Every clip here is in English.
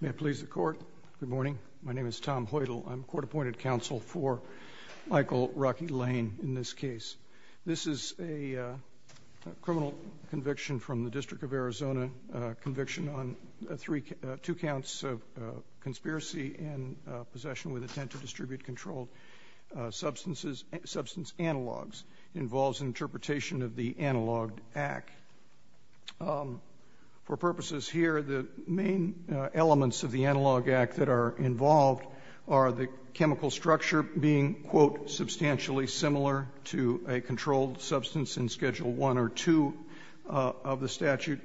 May I please the court? Good morning. My name is Tom Hoytel. I'm court-appointed counsel for Michael Rocky Lane in this case. This is a criminal conviction from the District of Arizona, a conviction on two counts of conspiracy and possession with intent to distribute controlled substance analogs. It involves an interpretation of the Analog Act. For purposes here, the main elements of the Analog Act that are involved are the chemical structure being, quote, substantially similar to a controlled substance in Schedule I or II of the statute,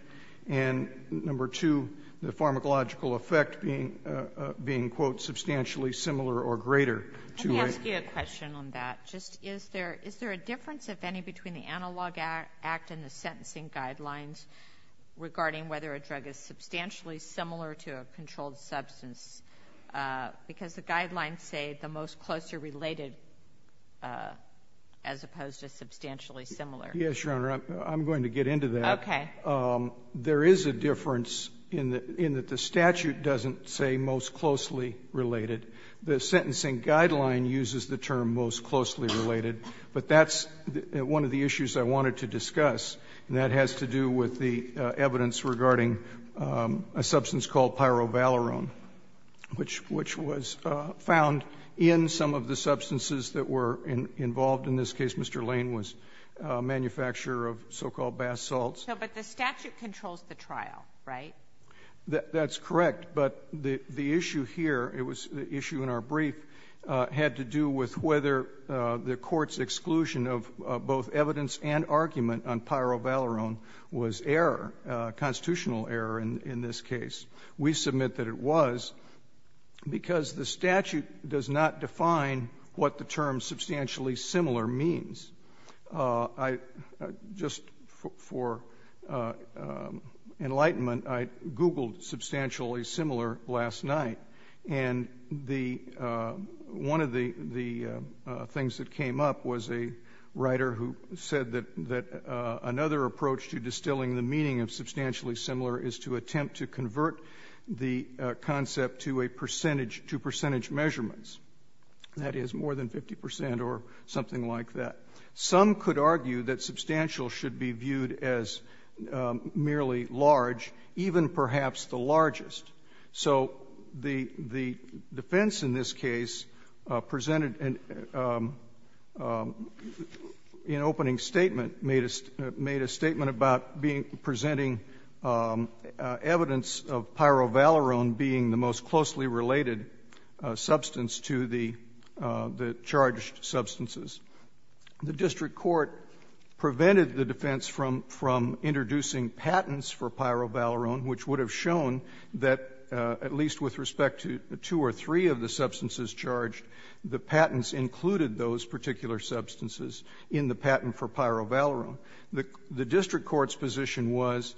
and, number two, the pharmacological effect being, quote, substantially similar or greater to a Let me ask you a question on that. Just is there a difference, if any, between the Analog Act and the sentencing guidelines regarding whether a drug is substantially similar to a controlled substance? Because the guidelines say the most closely related as opposed to substantially similar. Yes, Your Honor. I'm going to get into that. Okay. There is a difference in that the statute doesn't say most closely related. The sentencing guideline uses the term most closely related, but that's one of the substance called pyrovalerone, which was found in some of the substances that were involved in this case. Mr. Lane was a manufacturer of so-called bath salts. No, but the statute controls the trial, right? That's correct. But the issue here, it was the issue in our brief, had to do with whether the Court's judgment was a constitutional error in this case. We submit that it was, because the statute does not define what the term substantially similar means. I just, for enlightenment, I Googled substantially similar last night, and the one of the things that came up was a writer who said that another approach to distilling the meaning of substantially similar is to attempt to convert the concept to a percentage to percentage measurements, that is, more than 50 percent or something like that. Some could argue that substantial should be viewed as merely large, even perhaps the largest. So the defense in this case presented an opening statement, made a statement about being presenting evidence of pyrovalerone being the most closely related substance to the charged substances. The district court prevented the defense from introducing patents for pyrovalerone, which would have shown that, at least with respect to two or three of the substances charged, the patents included those particular substances in the patent for pyrovalerone. The district court's position was,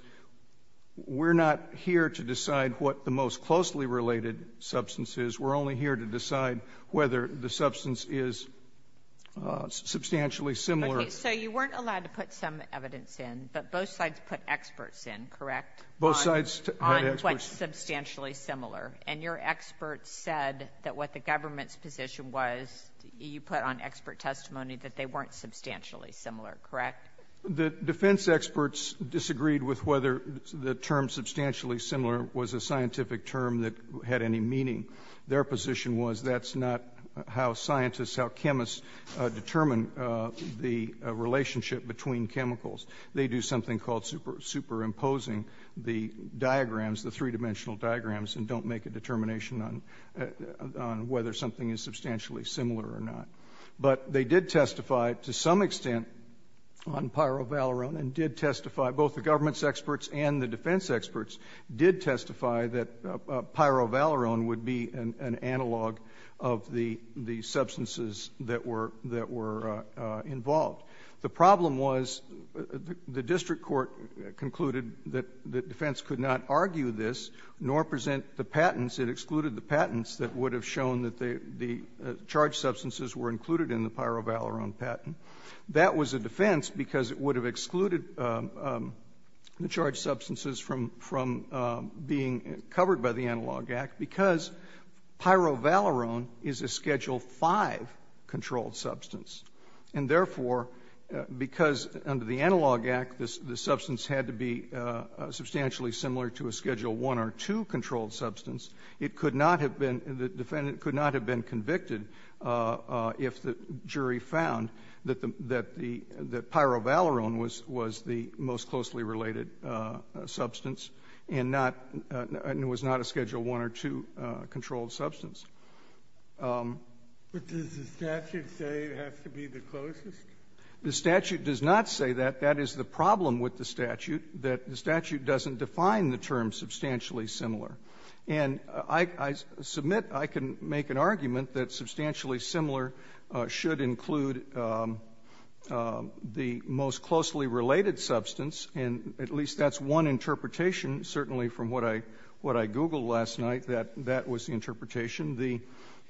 we're not here to decide what the most closely related substance is. We're only here to decide whether the substance is substantially similar. So you weren't allowed to put some evidence in, but both sides put experts in, correct? Both sides had experts. On what's substantially similar. And your experts said that what the government's position was, you put on expert testimony, that they weren't substantially similar, correct? The defense experts disagreed with whether the term substantially similar was a scientific term that had any meaning. Their position was that's not how scientists, how chemists determine the relationship between chemicals. make a determination on whether something is substantially similar or not. But they did testify, to some extent, on pyrovalerone, and did testify, both the government's experts and the defense experts did testify that pyrovalerone would be an analog of the substances that were involved. The problem was the district court concluded that the defense could not argue this, nor present the patents. It excluded the patents that would have shown that the charged substances were included in the pyrovalerone patent. That was a defense because it would have excluded the charged substances from being covered by the Analog Act because pyrovalerone is a Schedule V controlled substance. And, therefore, because under the Analog Act, the substance had to be substantially similar to a Schedule I or II controlled substance, it could not have been the defendant could not have been convicted if the jury found that the pyrovalerone was the most closely related substance, and not, and it was not a Schedule I or II controlled substance. But does the statute say it has to be the closest? The statute does not say that. That is the problem with the statute, that the statute doesn't define the term substantially similar. And I submit, I can make an argument that substantially similar should include the most closely related substance, and at least that's one interpretation, certainly from what I, what I Googled last night, that that was the interpretation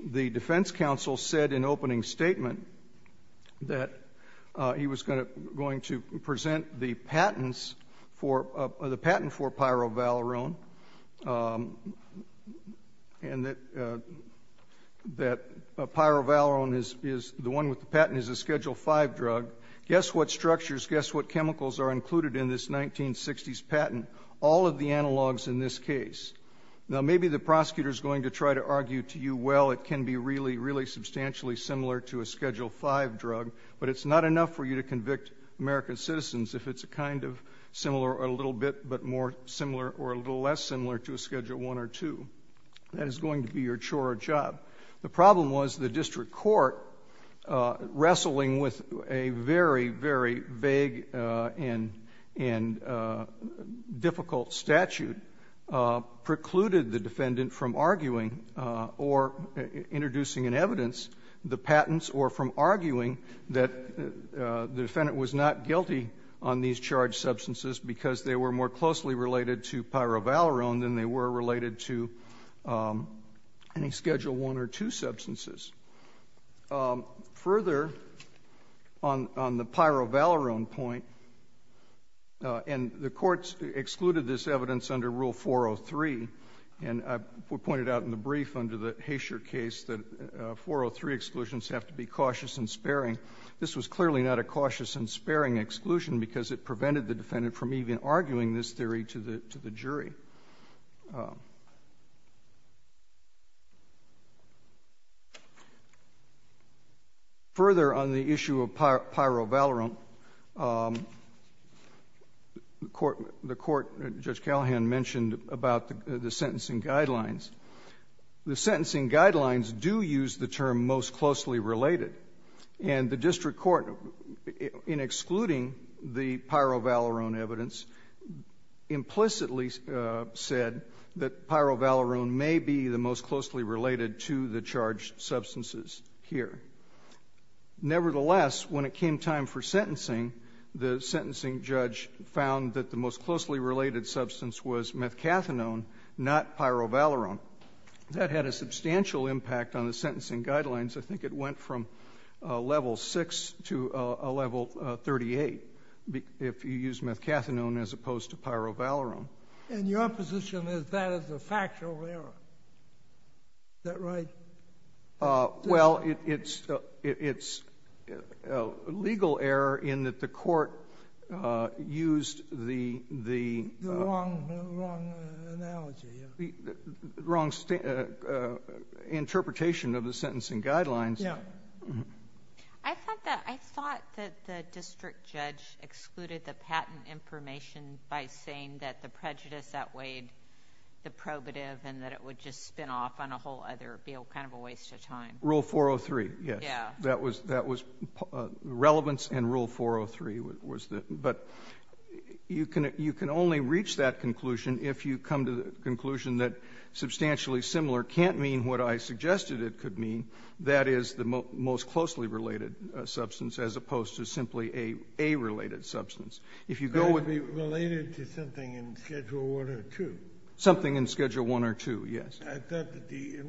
The defense counsel said in opening statement that he was going to present the patents for, the patent for pyrovalerone, and that, that pyrovalerone is, is, the one with the patent is a Schedule V drug. Guess what structures, guess what chemicals are included in this 1960s patent? All of the analogs in this case. Now, maybe the prosecutor is going to try to argue to you, well, it can be really, really substantially similar to a Schedule V drug, but it's not enough for you to convict American citizens if it's a kind of similar, or a little bit, but more similar or a little less similar to a Schedule I or II. That is going to be your chore or job. The problem was the district court wrestling with a very, very vague and, and difficult statute precluded the defendant from arguing or introducing in evidence the patents or from arguing that the defendant was not guilty on these charged substances because they were more closely related to pyrovalerone than they were related to any Schedule I or II substances. Further, on, on the pyrovalerone point, and the courts excluded this evidence under Rule 403, and I pointed out in the brief under the Haysher case that 403 exclusions have to be cautious and sparing. This was clearly not a cautious and sparing exclusion because it prevented the defendant from even arguing this theory to the, to the jury. Further, on the issue of pyrovalerone, the court, the court, Judge Callahan mentioned about the, the sentencing guidelines. The sentencing guidelines do use the term most closely related, and the district court, in excluding the pyrovalerone evidence, implicitly said that pyrovalerone may be the most closely related to the charged substances here. Nevertheless, when it came time for sentencing, the sentencing judge found that the most closely related substance was methcathinone, not pyrovalerone. That had a substantial impact on the sentencing guidelines. I think it went from a level 6 to a level 38 if you used methcathinone as opposed to pyrovalerone. And your position is that is a factual error. Is that right? Well, it's, it's a legal error in that the court used the, the — The wrong, wrong analogy. The wrong interpretation of the sentencing guidelines. Yeah. I thought that, I thought that the district judge excluded the patent information by saying that the prejudice outweighed the probative and that it would just spin off on a whole other, be kind of a waste of time. Rule 403, yes. Yeah. That was, that was relevance in Rule 403 was the, but you can, you can only reach that conclusion if you come to the conclusion that substantially similar can't mean what I suggested it could mean, that is, the most closely related substance as opposed to simply a, a related substance. If you go with — Related to something in Schedule 1 or 2. Something in Schedule 1 or 2, yes. I thought that the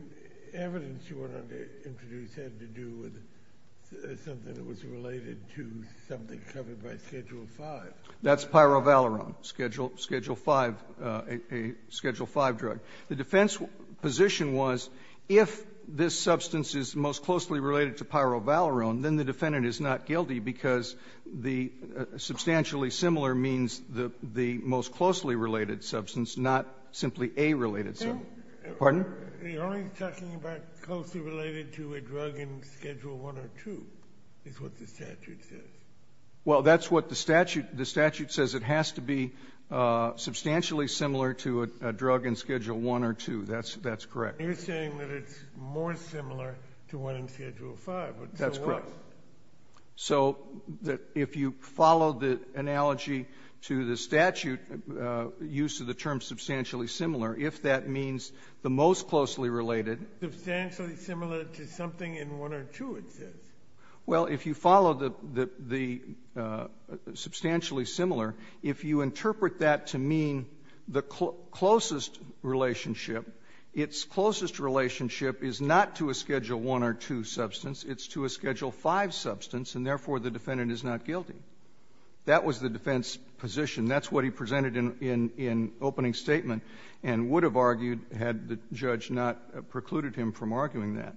evidence you wanted to introduce had to do with something that was related to something covered by Schedule 5. That's pyrovalerone, Schedule 5, a Schedule 5 drug. The defense position was if this substance is most closely related to pyrovalerone, then the defendant is not guilty because the substantially similar means the, the most closely related substance, not simply a related substance. Pardon? We're only talking about closely related to a drug in Schedule 1 or 2 is what the statute says. Well, that's what the statute, the statute says. It has to be substantially similar to a drug in Schedule 1 or 2. That's, that's correct. You're saying that it's more similar to one in Schedule 5, but so what? That's correct. So that if you follow the analogy to the statute, use of the term substantially similar, if that means the most closely related — Substantially similar to something in 1 or 2, it says. Well, if you follow the, the substantially similar, if you interpret that to mean the closest relationship, its closest relationship is not to a Schedule 1 or 2 substance. It's to a Schedule 5 substance, and therefore the defendant is not guilty. That was the defense position. That's what he presented in, in, in opening statement and would have argued had the judge not precluded him from arguing that.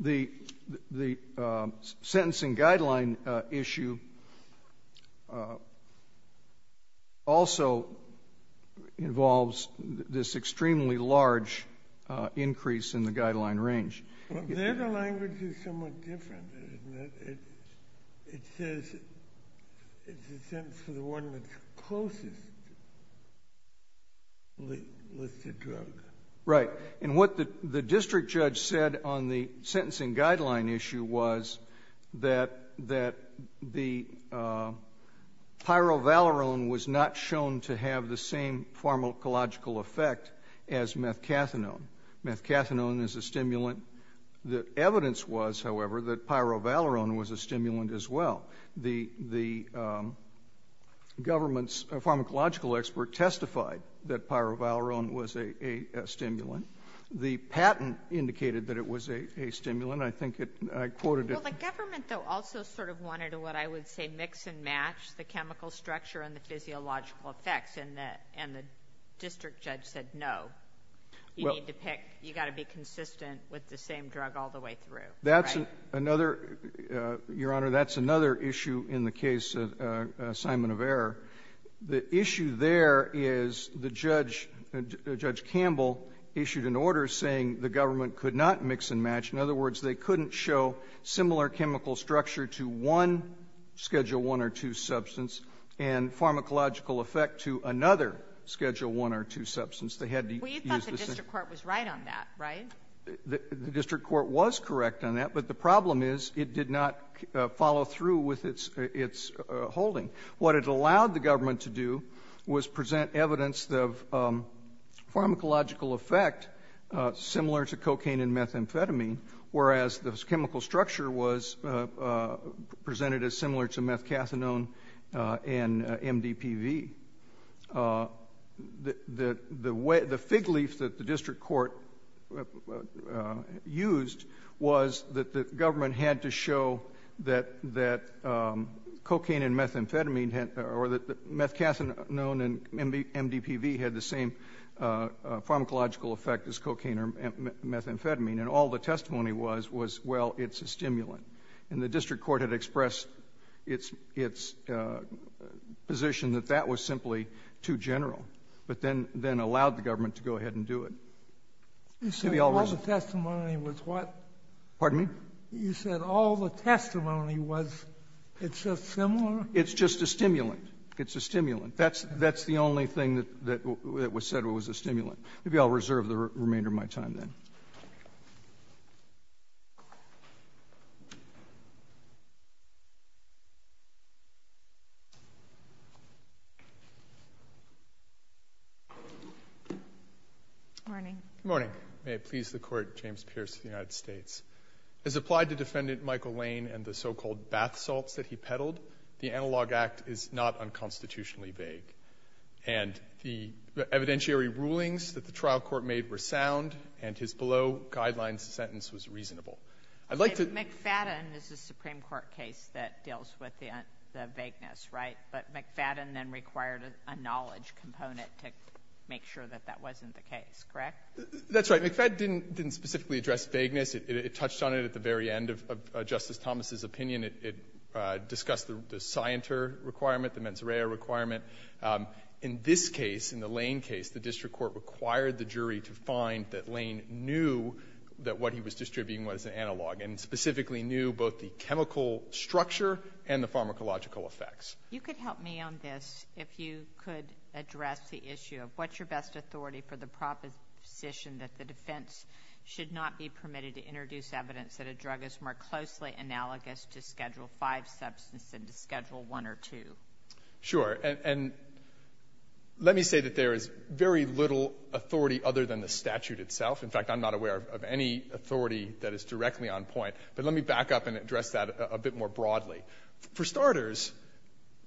Okay. The, the sentencing guideline issue also involves this extremely large increase in the guideline range. There the language is somewhat different, isn't it? It, it says it's a sentence for the one that's closest with the drug. Right. And what the, the district judge said on the sentencing guideline issue was that, that the pyrovalerone was not shown to have the same pharmacological effect as methcathinone. Methcathinone is a stimulant. The evidence was, however, that pyrovalerone was a stimulant as well. The, the government's pharmacological expert testified that pyrovalerone was a, a stimulant. The patent indicated that it was a, a stimulant. I think it, I quoted it. Well, the government, though, also sort of wanted what I would say mix and match the chemical structure and the physiological effects, and the, and the district judge said no. You need to pick, you got to be consistent with the same drug all the way through. That's another, Your Honor, that's another issue in the case of Simon of Error. The issue there is the judge, Judge Campbell, issued an order saying the government could not mix and match. In other words, they couldn't show similar chemical structure to one Schedule I or II substance and pharmacological effect to another Schedule I or II substance. They had to use the same. Well, you thought the district court was right on that, right? The, the district court was correct on that, but the problem is it did not follow through with its, its holding. What it allowed the government to do was present evidence of pharmacological effect similar to cocaine and methamphetamine, whereas the chemical structure was presented as similar to methcathinone and MDPV. The, the, the way, the fig leaf that the district court used was that the government had to show that, that cocaine and methamphetamine had, or that methcathinone and MDPV had the same pharmacological effect as cocaine or methamphetamine. And all the testimony was, was, well, it's a stimulant. And the district court had expressed its, its position that that was simply too general. But then, then allowed the government to go ahead and do it. Maybe I'll reserve. You said all the testimony was what? Pardon me? You said all the testimony was, it's just similar? It's just a stimulant. It's a stimulant. That's, that's the only thing that, that was said was a stimulant. Maybe I'll reserve the remainder of my time then. Good morning. May it please the Court, James Pierce of the United States. As applied to Defendant Michael Lane and the so-called bath salts that he peddled, the Analog Act is not unconstitutionally vague. And the evidentiary rulings that the trial court made were sound, and his below-guidelines sentence was reasonable. I'd like to ---- McFadden is a Supreme Court case that deals with the, the vagueness, right? But McFadden then required a knowledge component to make sure that that wasn't the case, correct? That's right. McFadden didn't, didn't specifically address vagueness. It, it touched on it at the very end of, of Justice Thomas's opinion. It, it discussed the Scienter requirement, the mens rea requirement. In this case, in the Lane case, the district court required the jury to find that Lane knew that what he was distributing was an analog, and specifically knew both the chemical structure and the pharmacological effects. You could help me on this, if you could address the issue of what's your best authority for the proposition that the defense should not be permitted to introduce evidence that a drug is more closely analogous to Schedule V substance than to Schedule I or II? Sure. And let me say that there is very little authority other than the statute itself. In fact, I'm not aware of any authority that is directly on point. But let me back up and address that a bit more broadly. For starters,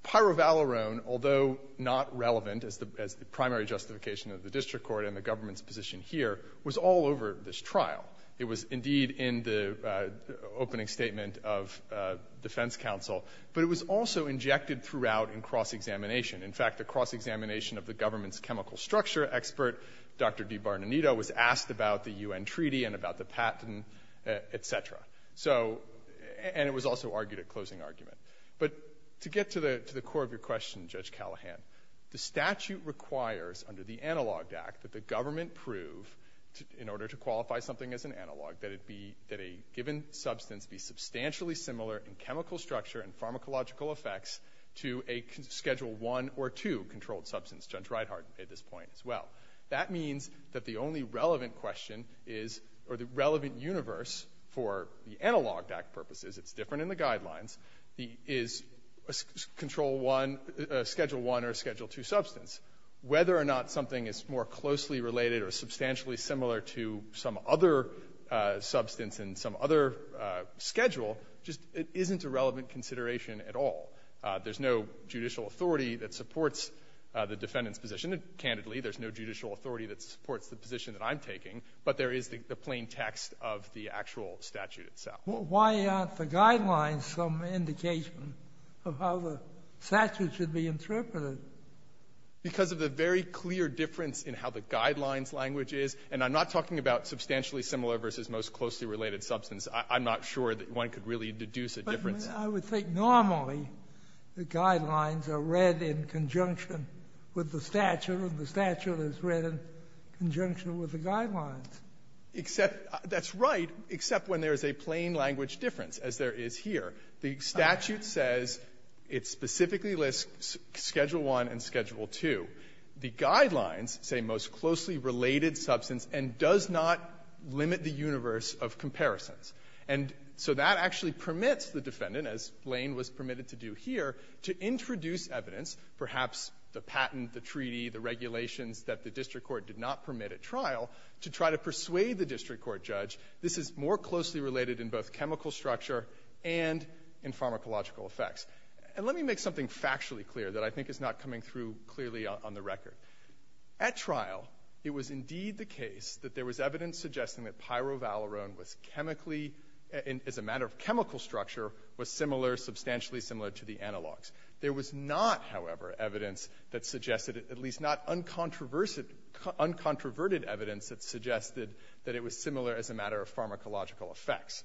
pyrovalerone, although not relevant as the, as the primary justification of the district court and the government's position here, was all over this trial. It was, indeed, in the opening statement of defense counsel, but it was also injected throughout in cross-examination. In fact, the cross-examination of the government's chemical structure expert, Dr. DeBarnanito, was asked about the U.N. Treaty and about the patent, et cetera. So, and it was also argued at closing argument. But to get to the, to the core of your question, Judge Callahan, the statute requires, under the analog act, that the government prove, in order to qualify something as an analog, that it be, that a given substance be substantially similar in chemical and biological effects to a Schedule I or II controlled substance, Judge Reithart made this point as well. That means that the only relevant question is, or the relevant universe for the analog act purposes, it's different in the Guidelines, is a Control I, a Schedule I or a Schedule II substance. Whether or not something is more closely related or substantially similar to some other substance in some other schedule just isn't a relevant consideration at all. There's no judicial authority that supports the defendant's position. Candidly, there's no judicial authority that supports the position that I'm taking, but there is the plain text of the actual statute itself. Why aren't the Guidelines some indication of how the statute should be interpreted? Because of the very clear difference in how the Guidelines language is. And I'm not talking about substantially similar versus most closely related substance. I'm not sure that one could really deduce a difference. Sotomayor, I would think normally the Guidelines are read in conjunction with the statute, and the statute is read in conjunction with the Guidelines. Except that's right, except when there is a plain language difference, as there is here. The statute says it specifically lists Schedule I and Schedule II. The Guidelines say most closely related substance and does not limit the universe of comparisons. And so that actually permits the defendant, as Blaine was permitted to do here, to introduce evidence, perhaps the patent, the treaty, the regulations that the district court did not permit at trial, to try to persuade the district court judge this is more closely related in both chemical structure and in pharmacological effects. And let me make something factually clear that I think is not coming through clearly on the record. At trial, it was indeed the case that there was evidence suggesting that pyrovalerone was chemically, as a matter of chemical structure, was similar, substantially similar to the analogs. There was not, however, evidence that suggested, at least not uncontroversed uncontroverted evidence that suggested that it was similar as a matter of pharmacological effects.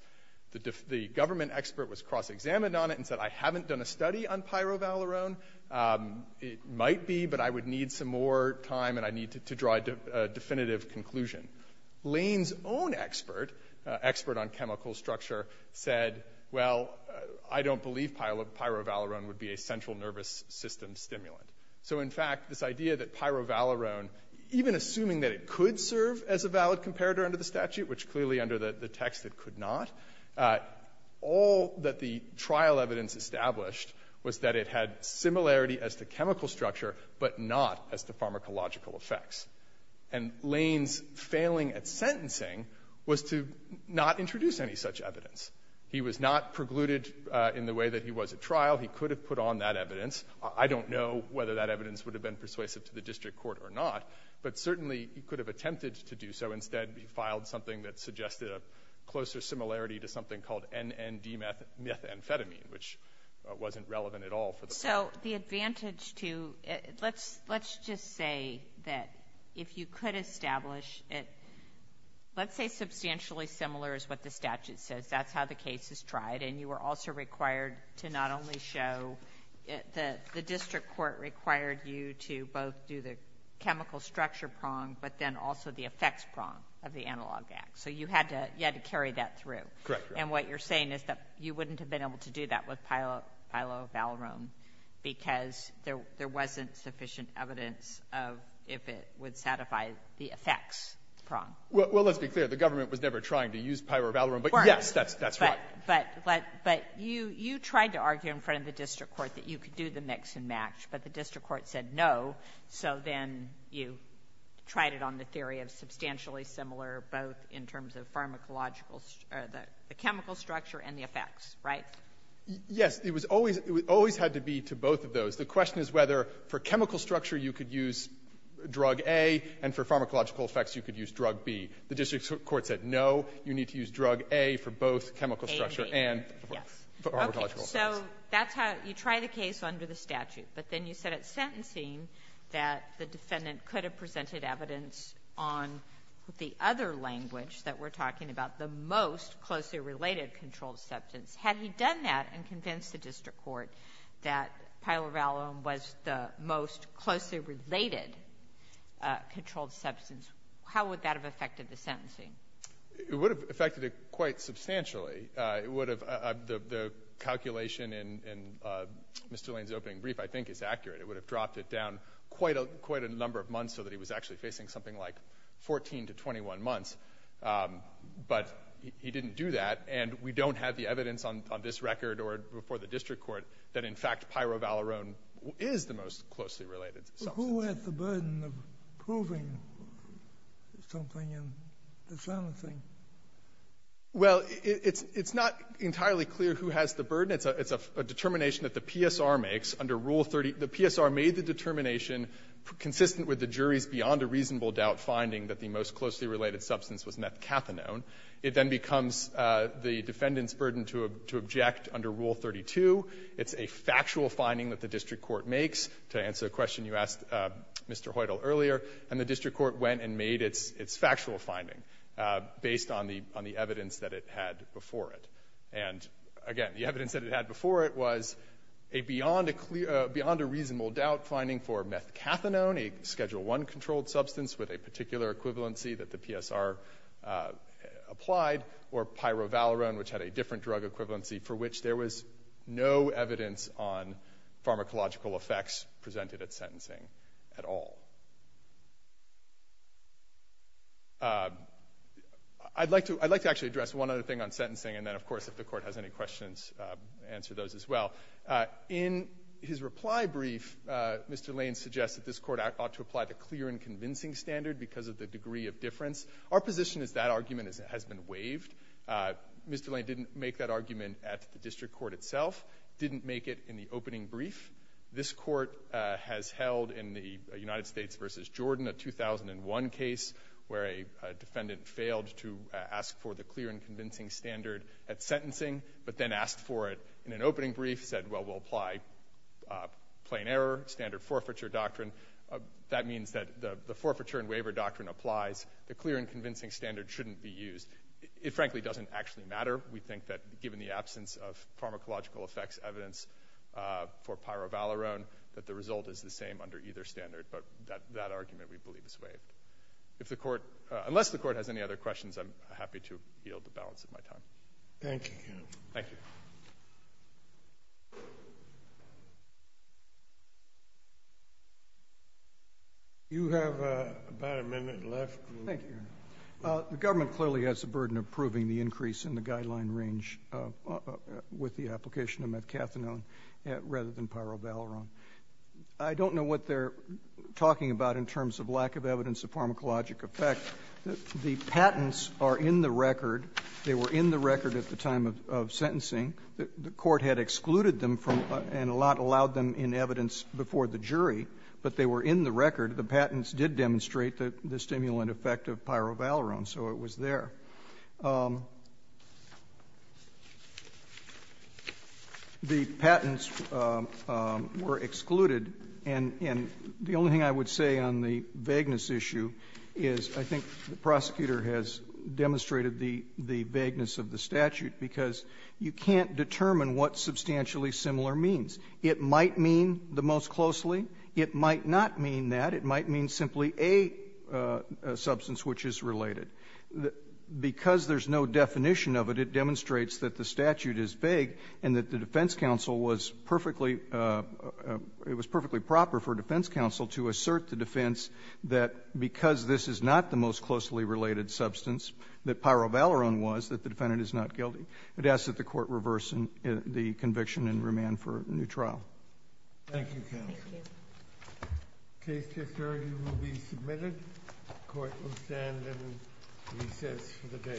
The government expert was cross-examined on it and said I haven't done a study on pyrovalerone. It might be, but I would need some more time, and I need to draw a definitive conclusion. Lane's own expert, expert on chemical structure, said, well, I don't believe pyrovalerone would be a central nervous system stimulant. So, in fact, this idea that pyrovalerone, even assuming that it could serve as a valid comparator under the statute, which clearly under the text it could not, all that the trial evidence established was that it had similarity as to chemical structure, but not as to pharmacological effects. And Lane's failing at sentencing was to not introduce any such evidence. He was not precluded in the way that he was at trial. He could have put on that evidence. I don't know whether that evidence would have been persuasive to the district court or not, but certainly he could have attempted to do so. Instead, he filed something that suggested a closer similarity to something called NND methamphetamine, which wasn't relevant at all for the court. The advantage to, let's just say that if you could establish it, let's say substantially similar is what the statute says. That's how the case is tried, and you were also required to not only show, the district court required you to both do the chemical structure prong, but then also the effects prong of the analog act. So you had to carry that through. Correct. And what you're saying is that you wouldn't have been able to do that with sufficient evidence of if it would satisfy the effects prong. Well, let's be clear. The government was never trying to use pyrovalerone, but yes, that's right. But you tried to argue in front of the district court that you could do the mix and match, but the district court said no, so then you tried it on the theory of substantially similar, both in terms of pharmacological or the chemical structure and the effects, right? Yes. It was always had to be to both of those. The question is whether for chemical structure you could use drug A and for pharmacological effects you could use drug B. The district court said no, you need to use drug A for both chemical structure and for pharmacological effects. Okay. So that's how you try the case under the statute. But then you said at sentencing that the defendant could have presented evidence on the other language that we're talking about, the most closely related controlled substance. Had he done that and convinced the district court that pyrovalerone was the most closely related controlled substance, how would that have affected the sentencing? It would have affected it quite substantially. It would have the calculation in Mr. Lane's opening brief I think is accurate. It would have dropped it down quite a number of months so that he was actually facing something like 14 to 21 months, but he didn't do that, and we don't have the evidence on this record or before the district court that, in fact, pyrovalerone is the most closely related substance. Who has the burden of proving something in the sentencing? Well, it's not entirely clear who has the burden. It's a determination that the PSR makes under Rule 30. The PSR made the determination consistent with the jury's beyond-a-reasonable-doubt finding that the most closely related substance was methcathinone. It then becomes the defendant's burden to object under Rule 32. It's a factual finding that the district court makes. To answer a question you asked, Mr. Hoytel, earlier, the district court went and made its factual finding based on the evidence that it had before it. And, again, the evidence that it had before it was a beyond-a-reasonable-doubt finding for methcathinone, a Schedule I controlled substance with a particular equivalency that the PSR applied, or pyrovalerone, which had a different drug equivalency for which there was no evidence on pharmacological effects presented at sentencing at all. I'd like to actually address one other thing on sentencing, and then, of course, if the Court has any questions, answer those as well. In his reply brief, Mr. Lane suggests that this Court ought to apply the clear and convincing standard at sentencing, but then asked for it in an opening brief, said, well, we'll apply plain error, standard forfeiture doctrine. That means that the forfeiture and waiver doctrine apply, but it doesn't apply to the clinical trial. The clear and convincing standard shouldn't be used. It frankly doesn't actually matter. We think that given the absence of pharmacological effects evidence for pyrovalerone, that the result is the same under either standard, but that argument, we believe, is waived. If the Court, unless the Court has any other questions, I'm happy to yield the balance of my time. Thank you. Thank you. Do you have about a minute left? Thank you, Your Honor. The government clearly has the burden of proving the increase in the guideline range with the application of methcathinone rather than pyrovalerone. I don't know what they're talking about in terms of lack of evidence of pharmacologic effect. The patents are in the record. They were in the record at the time of sentencing. The Court had excluded them from and allowed them in evidence before the jury, but they were in the record. The patents did demonstrate the stimulant effect of pyrovalerone, so it was there. The patents were excluded, and the only thing I would say on the vagueness issue is I think the prosecutor has demonstrated the vagueness of the statute because you can't determine what substantially similar means. It might mean the most closely. It might not mean that. It might mean simply a substance which is related. Because there's no definition of it, it demonstrates that the statute is vague and that the defense counsel was perfectly – it was perfectly proper for defense counsel to assert the defense that because this is not the most closely related substance that pyrovalerone was, that the defendant is not guilty. It asks that the Court reverse the conviction and remand for a new trial. Thank you, counsel. Thank you. The case is adjourned and will be submitted. The Court will stand and recess for the day.